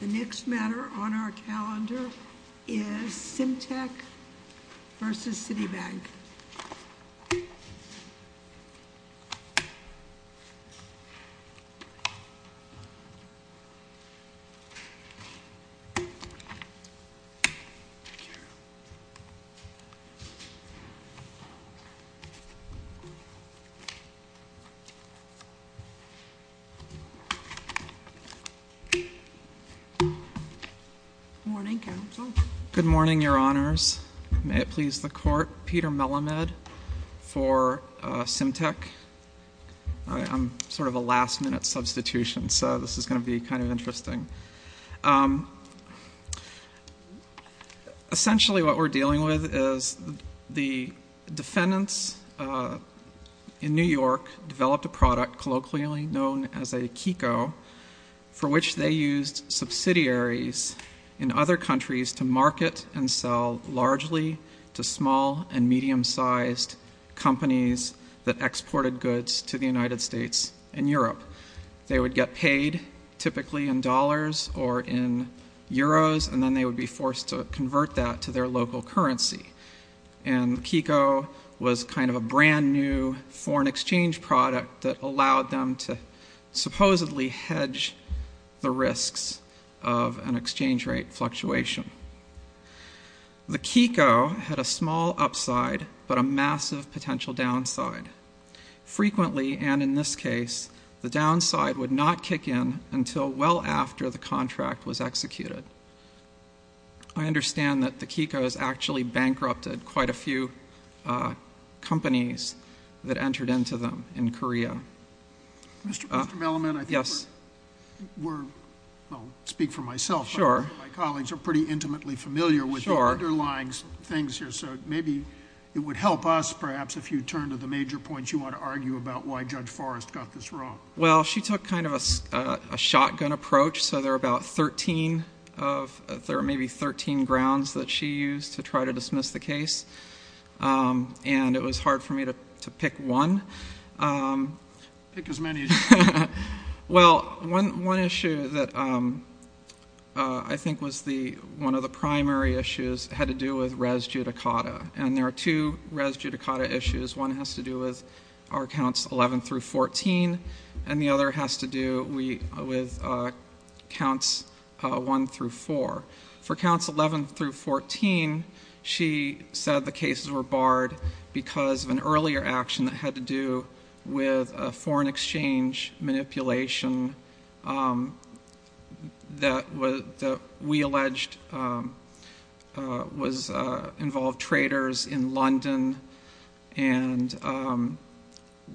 The next matter on our calendar is Simtech v. Citibank. Good morning, Counsel. Good morning, Your Honors. May it please the Court, Peter Melamed for Simtech. I'm sort of a last-minute substitution, so this is going to be kind of interesting. Essentially what we're dealing with is the defendants in New York developed a product colloquially known as a Kiko for which they used subsidiaries in other countries to market and sell largely to small and medium-sized companies that exported goods to the United States and Europe. They would get paid typically in dollars or in euros, and then they would be forced to convert that to their local currency. And Kiko was kind of a brand-new foreign exchange product that allowed them to supposedly hedge the risks of an exchange rate fluctuation. The Kiko had a small upside but a massive potential downside. Frequently, and in this case, the downside would not kick in until well after the contract was executed. I understand that the Kikos actually bankrupted quite a few companies that entered into them in Korea. Mr. Melamed, I think we're— Yes. Well, I'll speak for myself. Sure. My colleagues are pretty intimately familiar with the underlying things here, so maybe it would help us perhaps if you turn to the major points you want to argue about why Judge Forrest got this wrong. Well, she took kind of a shotgun approach, so there are maybe 13 grounds that she used to try to dismiss the case, and it was hard for me to pick one. Pick as many as you can. Well, one issue that I think was one of the primary issues had to do with res judicata, and there are two res judicata issues. One has to do with our counts 11 through 14, and the other has to do with counts 1 through 4. For counts 11 through 14, she said the cases were barred because of an earlier action that had to do with a foreign exchange manipulation that we alleged involved traders in London, and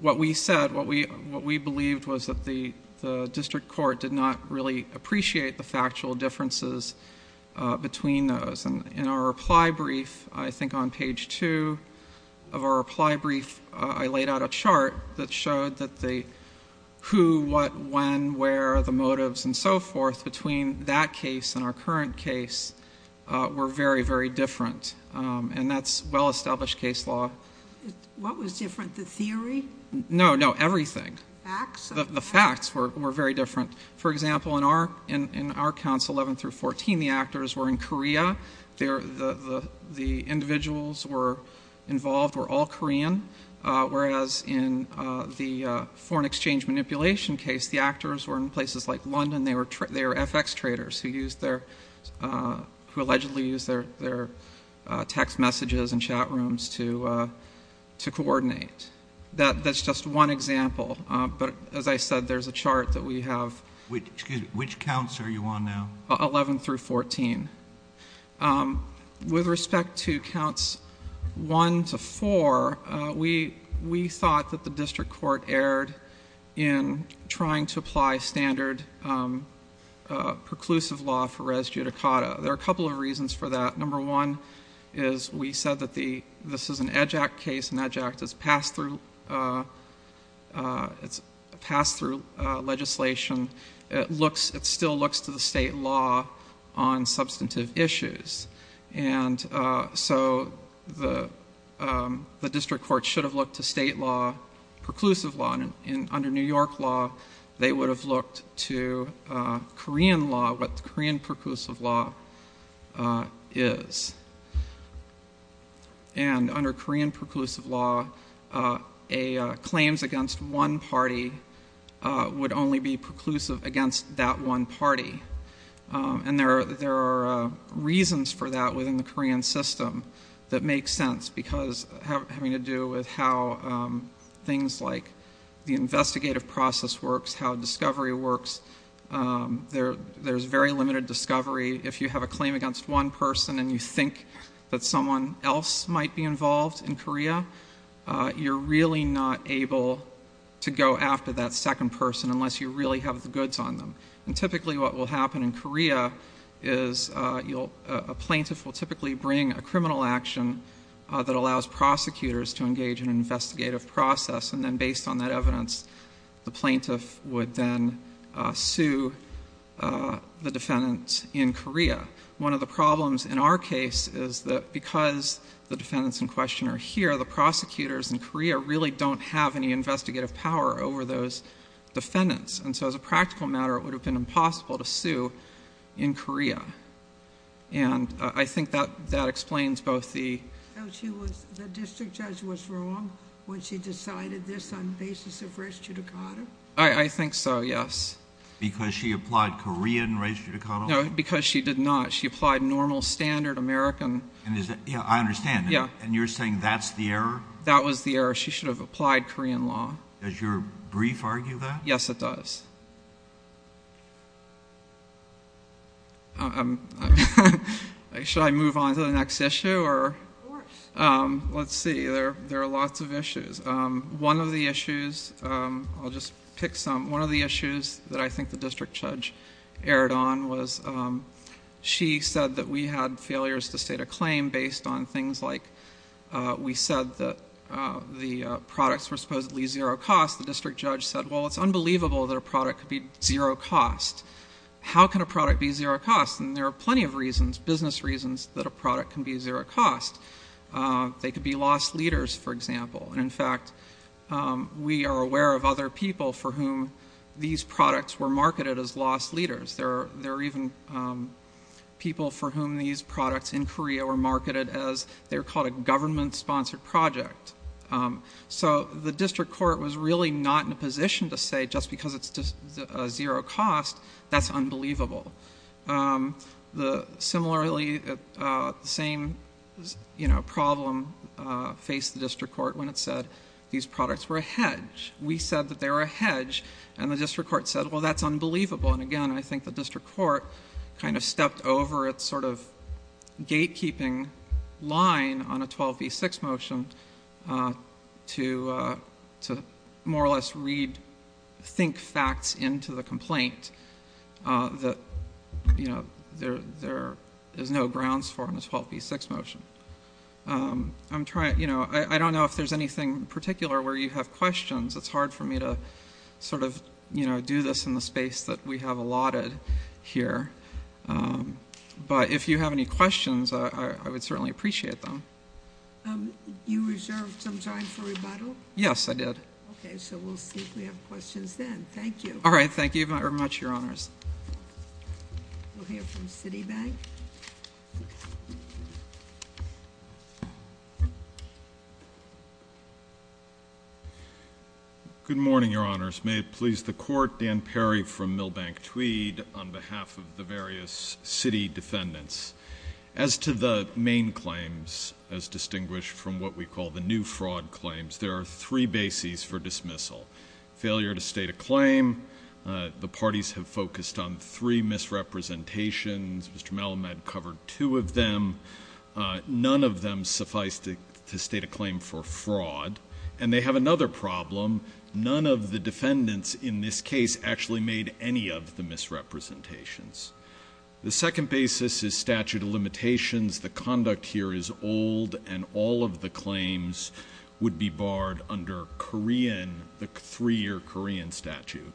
what we said, what we believed was that the district court did not really appreciate the factual differences between those. In our reply brief, I think on page 2 of our reply brief, I laid out a chart that showed that the who, what, when, where, the motives and so forth between that case and our current case were very, very different, and that's well-established case law. What was different, the theory? No, no, everything. Facts? The facts were very different. For example, in our counts 11 through 14, the actors were in Korea. The individuals involved were all Korean, whereas in the foreign exchange manipulation case, the actors were in places like London. They were FX traders who allegedly used their text messages and chat rooms to coordinate. That's just one example, but as I said, there's a chart that we have. Which counts are you on now? 11 through 14. With respect to counts 1 to 4, we thought that the district court erred in trying to apply standard preclusive law for res judicata. There are a couple of reasons for that. Number one is we said that this is an EDGE Act case, and EDGE Act is passed through legislation. It still looks to the state law on substantive issues, and so the district court should have looked to state law, preclusive law. Under New York law, they would have looked to Korean law, what the Korean preclusive law is. Under Korean preclusive law, claims against one party would only be preclusive against that one party. There are reasons for that within the Korean system that make sense because having to do with how things like the investigative process works, how discovery works, there's very limited discovery. If you have a claim against one person and you think that someone else might be involved in Korea, you're really not able to go after that second person unless you really have the goods on them. And typically what will happen in Korea is a plaintiff will typically bring a criminal action that allows prosecutors to engage in an investigative process, and then based on that evidence, the plaintiff would then sue the defendants in Korea. One of the problems in our case is that because the defendants in question are here, the prosecutors in Korea really don't have any investigative power over those defendants. And so as a practical matter, it would have been impossible to sue in Korea. And I think that explains both the— The district judge was wrong when she decided this on the basis of res judicata? I think so, yes. Because she applied Korean res judicata? No, because she did not. She applied normal, standard American— Yeah, I understand. Yeah. And you're saying that's the error? That was the error. She should have applied Korean law. Does your brief argue that? Yes, it does. Should I move on to the next issue? Of course. Let's see. There are lots of issues. One of the issues—I'll just pick some. One of the issues that I think the district judge erred on was she said that we had failures to state a claim based on things like we said that the products were supposedly zero cost. The district judge said, well, it's unbelievable that a product could be zero cost. How can a product be zero cost? And there are plenty of reasons, business reasons, that a product can be zero cost. They could be lost leaders, for example. And, in fact, we are aware of other people for whom these products were marketed as lost leaders. There are even people for whom these products in Korea were marketed as— they were called a government-sponsored project. So the district court was really not in a position to say just because it's a zero cost, that's unbelievable. Similarly, the same problem faced the district court when it said these products were a hedge. We said that they were a hedge, and the district court said, well, that's unbelievable. And, again, I think the district court kind of stepped over its sort of gatekeeping line on a 12b-6 motion to more or less rethink facts into the complaint that there is no grounds for in the 12b-6 motion. I don't know if there's anything in particular where you have questions. It's hard for me to sort of do this in the space that we have allotted here. But if you have any questions, I would certainly appreciate them. You reserved some time for rebuttal? Yes, I did. Okay, so we'll see if we have questions then. Thank you. All right, thank you very much, Your Honors. We'll hear from Citibank. Good morning, Your Honors. May it please the Court, Dan Perry from Milbank Tweed on behalf of the various city defendants. As to the main claims, as distinguished from what we call the new fraud claims, there are three bases for dismissal. Failure to state a claim, the parties have focused on three misrepresentations. Mr. Melamed covered two of them. And they have another problem. None of the defendants in this case actually made any of the misrepresentations. The second basis is statute of limitations. The conduct here is old, and all of the claims would be barred under Korean, the three-year Korean statute.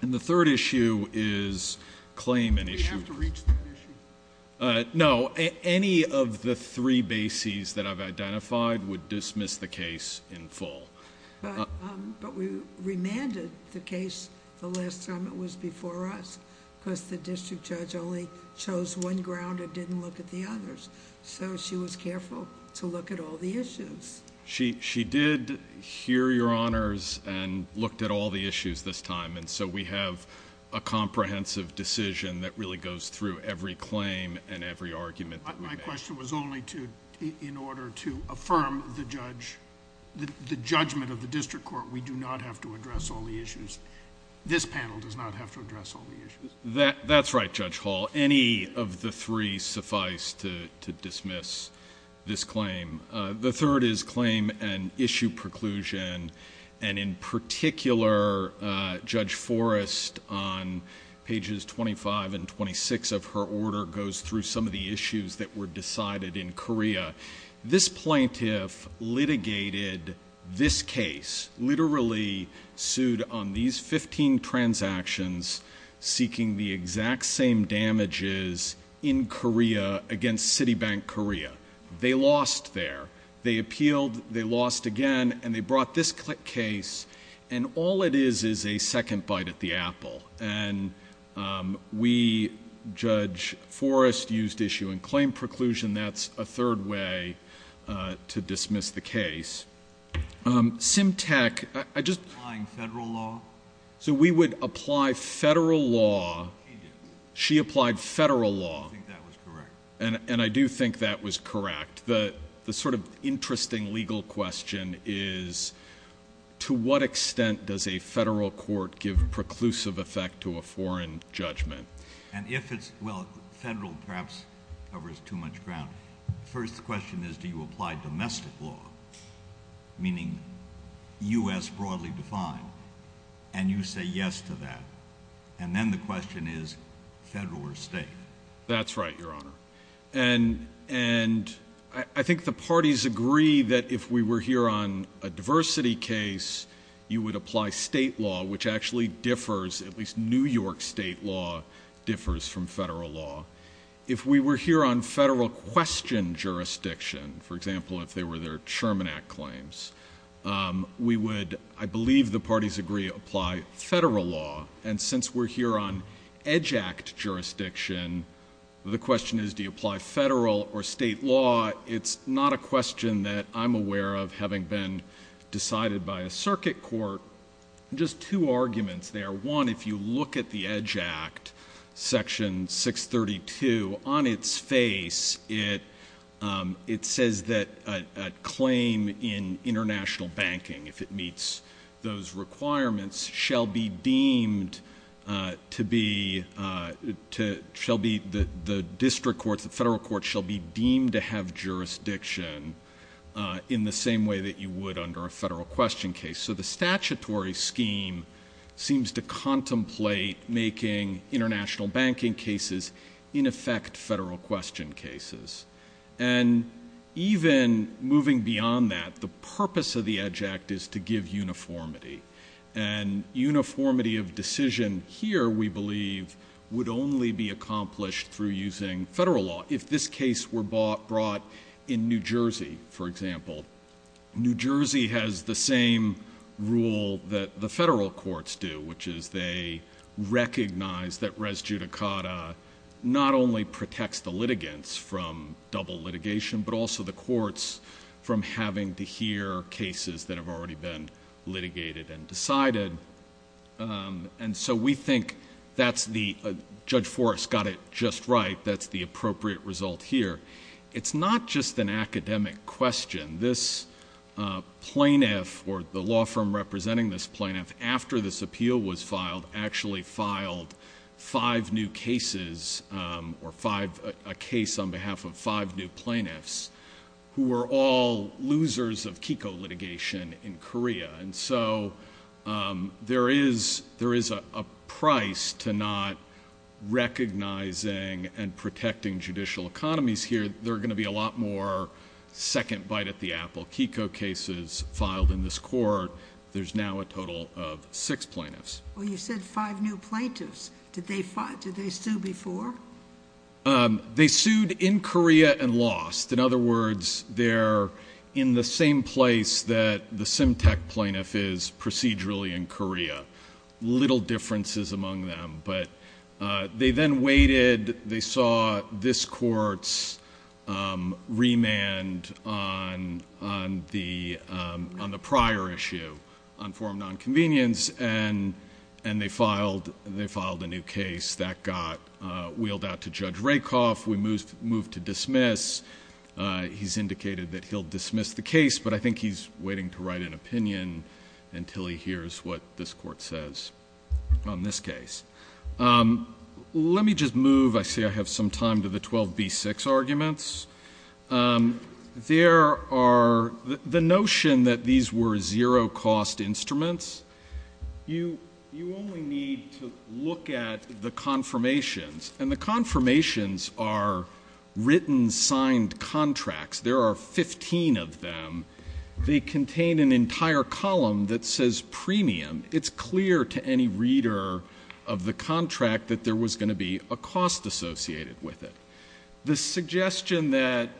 And the third issue is claim and issue. Do we have to reach that issue? No. Any of the three bases that I've identified would dismiss the case in full. But we remanded the case the last time it was before us. Because the district judge only chose one ground and didn't look at the others. So she was careful to look at all the issues. She did hear, Your Honors, and looked at all the issues this time. And so we have a comprehensive decision that really goes through every claim and every argument. My question was only in order to affirm the judgment of the district court. We do not have to address all the issues. This panel does not have to address all the issues. That's right, Judge Hall. Any of the three suffice to dismiss this claim. The third is claim and issue preclusion. And in particular, Judge Forrest, on pages 25 and 26 of her order, goes through some of the issues that were decided in Korea. This plaintiff litigated this case, literally sued on these 15 transactions, seeking the exact same damages in Korea against Citibank Korea. They lost there. They appealed. They lost again. And they brought this case. And all it is is a second bite at the apple. And we, Judge Forrest, used issue and claim preclusion. That's a third way to dismiss the case. Simtech, I just ‑‑ Applying federal law? So we would apply federal law. She did. She applied federal law. I think that was correct. And I do think that was correct. The sort of interesting legal question is, to what extent does a federal court give preclusive effect to a foreign judgment? And if it's ‑‑ well, federal perhaps covers too much ground. First question is, do you apply domestic law, meaning U.S. broadly defined? And you say yes to that. And then the question is, federal or state? That's right, Your Honor. And I think the parties agree that if we were here on a diversity case, you would apply state law, which actually differs, at least New York state law differs from federal law. If we were here on federal question jurisdiction, for example, if they were their Sherman Act claims, we would, I believe the parties agree, apply federal law. And since we're here on EDGE Act jurisdiction, the question is do you apply federal or state law? It's not a question that I'm aware of having been decided by a circuit court. Just two arguments there. One, if you look at the EDGE Act, Section 632, on its face it says that a claim in international banking, if it meets those requirements, shall be deemed to be the district court, the federal court, shall be deemed to have jurisdiction in the same way that you would under a federal question case. So the statutory scheme seems to contemplate making international banking cases in effect federal question cases. And even moving beyond that, the purpose of the EDGE Act is to give uniformity. And uniformity of decision here, we believe, would only be accomplished through using federal law. If this case were brought in New Jersey, for example, New Jersey has the same rule that the federal courts do, which is they recognize that res judicata not only protects the litigants from double litigation, but also the courts from having to hear cases that have already been litigated and decided. And so we think that's the, Judge Forrest got it just right, that's the appropriate result here. It's not just an academic question. This plaintiff, or the law firm representing this plaintiff, after this appeal was filed, actually filed five new cases, or a case on behalf of five new plaintiffs, who were all losers of KIKO litigation in Korea. And so there is a price to not recognizing and protecting judicial economies here. There are going to be a lot more second bite at the apple. KIKO cases filed in this court, there's now a total of six plaintiffs. Well, you said five new plaintiffs. Did they sue before? They sued in Korea and lost. In other words, they're in the same place that the Simtek plaintiff is procedurally in Korea. Little differences among them, but they then waited. They saw this court's remand on the prior issue, on form of nonconvenience, and they filed a new case. That got wheeled out to Judge Rakoff. We moved to dismiss. He's indicated that he'll dismiss the case, but I think he's waiting to write an opinion until he hears what this court says on this case. Let me just move, I see I have some time, to the 12B6 arguments. There are, the notion that these were zero-cost instruments, you only need to look at the confirmations, and the confirmations are written, signed contracts. There are 15 of them. They contain an entire column that says premium. It's clear to any reader of the contract that there was going to be a cost associated with it. The suggestion that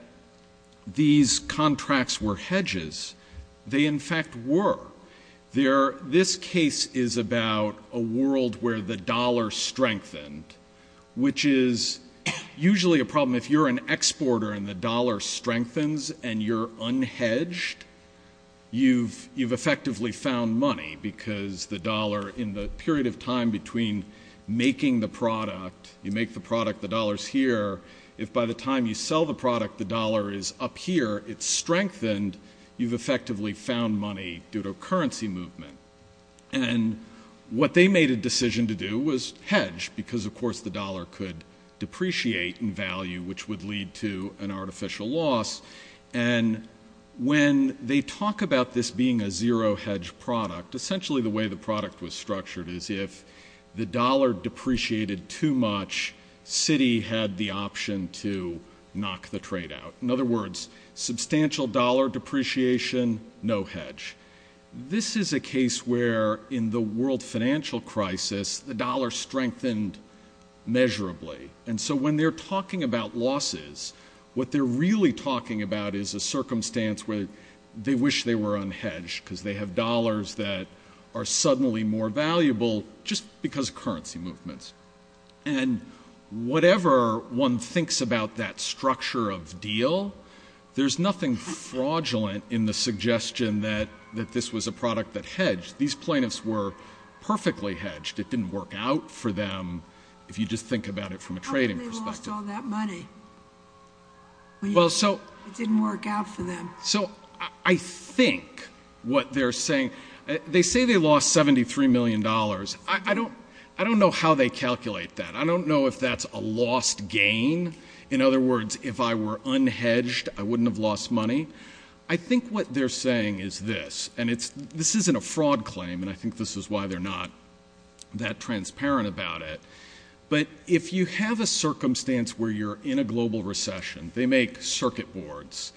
these contracts were hedges, they in fact were. This case is about a world where the dollar strengthened, which is usually a problem if you're an exporter and the dollar strengthens and you're unhedged. You've effectively found money because the dollar, you make the product, the dollar's here. If by the time you sell the product, the dollar is up here, it's strengthened, you've effectively found money due to a currency movement. What they made a decision to do was hedge, because of course the dollar could depreciate in value, which would lead to an artificial loss. When they talk about this being a zero-hedge product, essentially the way the product was structured is if the dollar depreciated too much, Citi had the option to knock the trade out. In other words, substantial dollar depreciation, no hedge. This is a case where in the world financial crisis, the dollar strengthened measurably. When they're talking about losses, what they're really talking about is a circumstance where they wish they were unhedged, because they have dollars that are suddenly more valuable just because of currency movements. Whatever one thinks about that structure of deal, there's nothing fraudulent in the suggestion that this was a product that hedged. These plaintiffs were perfectly hedged. It didn't work out for them if you just think about it from a trading perspective. How come they lost all that money? It didn't work out for them. I think what they're saying, they say they lost $73 million. I don't know how they calculate that. I don't know if that's a lost gain. In other words, if I were unhedged, I wouldn't have lost money. I think what they're saying is this, and this isn't a fraud claim, and I think this is why they're not that transparent about it, but if you have a circumstance where you're in a global recession, they make circuit boards,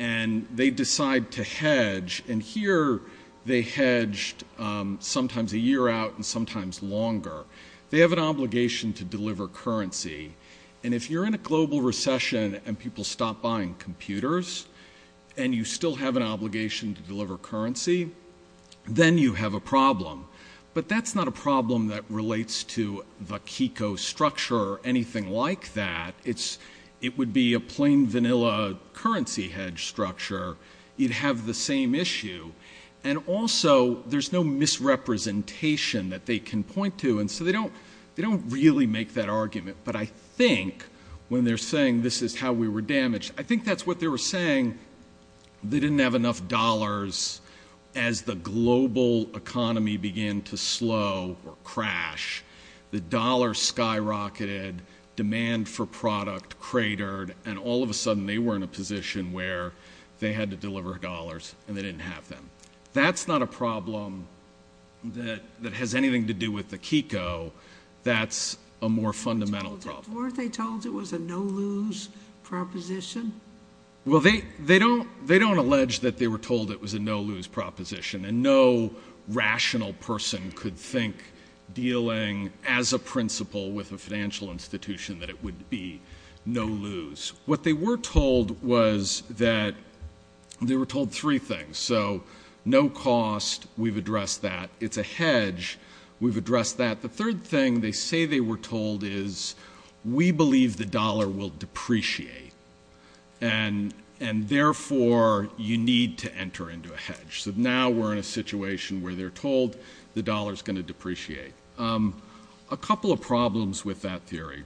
and they decide to hedge, and here they hedged sometimes a year out and sometimes longer. They have an obligation to deliver currency, and if you're in a global recession and people stop buying computers and you still have an obligation to deliver currency, then you have a problem. But that's not a problem that relates to the Kiko structure or anything like that. It would be a plain vanilla currency hedge structure. You'd have the same issue. And also there's no misrepresentation that they can point to, and so they don't really make that argument. But I think when they're saying this is how we were damaged, I think that's what they were saying. They didn't have enough dollars as the global economy began to slow or crash. The dollar skyrocketed, demand for product cratered, and all of a sudden they were in a position where they had to deliver dollars, and they didn't have them. That's not a problem that has anything to do with the Kiko. That's a more fundamental problem. Weren't they told it was a no-lose proposition? Well, they don't allege that they were told it was a no-lose proposition, and no rational person could think dealing as a principal with a financial institution that it would be no-lose. What they were told was that they were told three things. So no cost, we've addressed that. It's a hedge, we've addressed that. The third thing they say they were told is we believe the dollar will depreciate, and therefore you need to enter into a hedge. So now we're in a situation where they're told the dollar's going to depreciate. A couple of problems with that theory.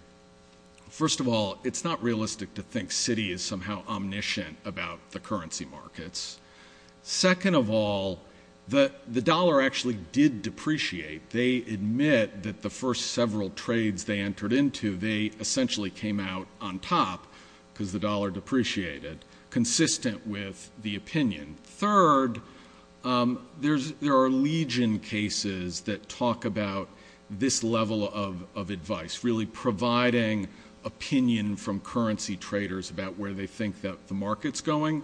First of all, it's not realistic to think Citi is somehow omniscient about the currency markets. Second of all, the dollar actually did depreciate. They admit that the first several trades they entered into, they essentially came out on top because the dollar depreciated, consistent with the opinion. Third, there are legion cases that talk about this level of advice, really providing opinion from currency traders about where they think that the market's going.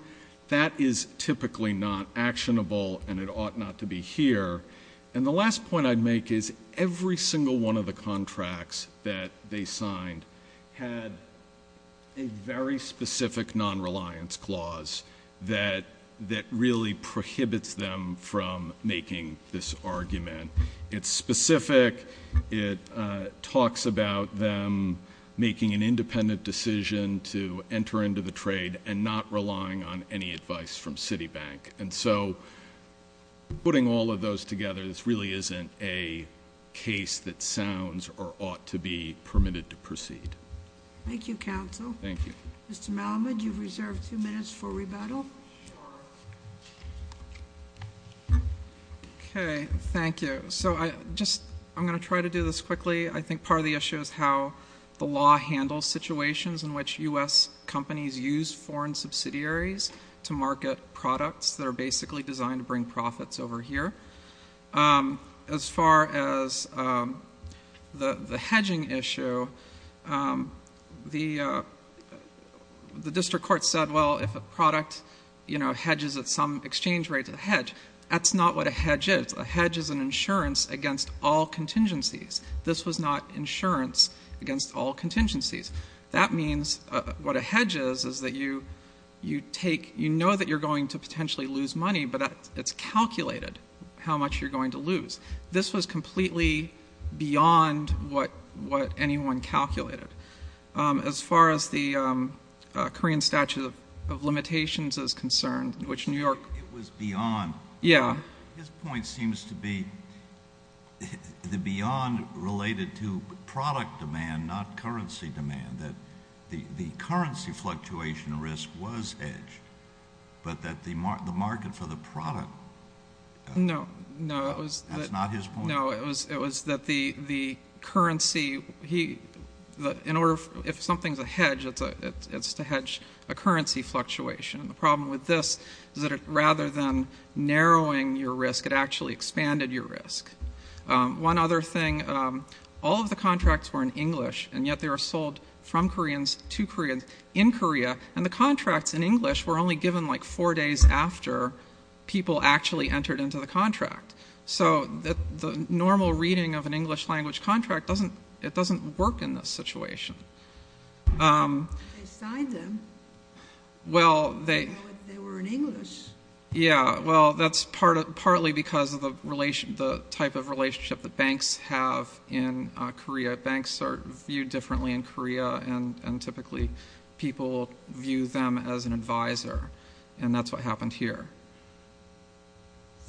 That is typically not actionable, and it ought not to be here. And the last point I'd make is every single one of the contracts that they signed had a very specific nonreliance clause that really prohibits them from making this argument. It's specific. It talks about them making an independent decision to enter into the trade and not relying on any advice from Citi Bank. And so putting all of those together, this really isn't a case that sounds or ought to be permitted to proceed. Thank you, counsel. Thank you. Mr. Malamud, you've reserved two minutes for rebuttal. Okay, thank you. So I'm going to try to do this quickly. I think part of the issue is how the law handles situations in which U.S. companies use foreign subsidiaries to market products that are basically designed to bring profits over here. As far as the hedging issue, the district court said, well, if a product, you know, hedges at some exchange rate to the hedge, that's not what a hedge is. A hedge is an insurance against all contingencies. This was not insurance against all contingencies. That means what a hedge is is that you take, you know that you're going to potentially lose money, but it's calculated how much you're going to lose. This was completely beyond what anyone calculated. As far as the Korean statute of limitations is concerned, which New York. It was beyond. Yeah. His point seems to be beyond related to product demand, not currency demand, that the currency fluctuation risk was hedged, but that the market for the product. No, no. That's not his point. No, it was that the currency, in order, if something's a hedge, it's to hedge a currency fluctuation. And the problem with this is that rather than narrowing your risk, it actually expanded your risk. One other thing, all of the contracts were in English, and yet they were sold from Koreans to Koreans in Korea, and the contracts in English were only given like four days after people actually entered into the contract. So the normal reading of an English language contract doesn't work in this situation. They signed them. They were in English. Yeah. Well, that's partly because of the type of relationship that banks have in Korea. Banks are viewed differently in Korea, and typically people view them as an advisor, and that's what happened here.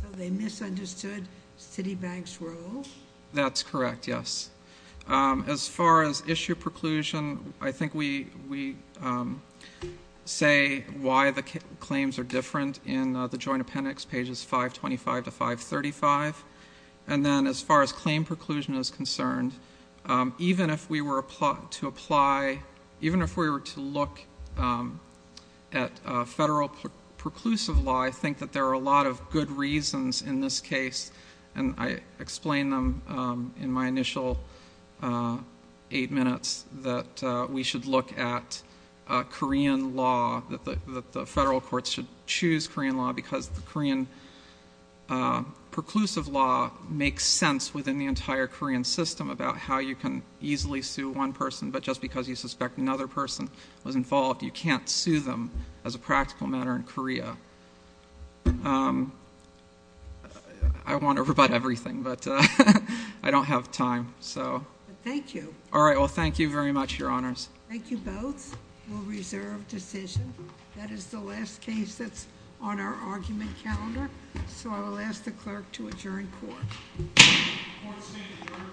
So they misunderstood Citibank's role? That's correct, yes. As far as issue preclusion, I think we say why the claims are different in the joint appendix, pages 525 to 535. And then as far as claim preclusion is concerned, even if we were to apply, even if we were to look at federal preclusive law, I think that there are a lot of good reasons in this case, and I explained them in my initial eight minutes that we should look at Korean law, that the federal courts should choose Korean law because the Korean preclusive law makes sense within the entire Korean system about how you can easily sue one person, but just because you suspect another person was involved, you can't sue them as a practical matter in Korea. I want to rebut everything, but I don't have time. Thank you. All right, well, thank you very much, Your Honors. Thank you both. We'll reserve decision. That is the last case that's on our argument calendar, so I will ask the clerk to adjourn court. Court is adjourned.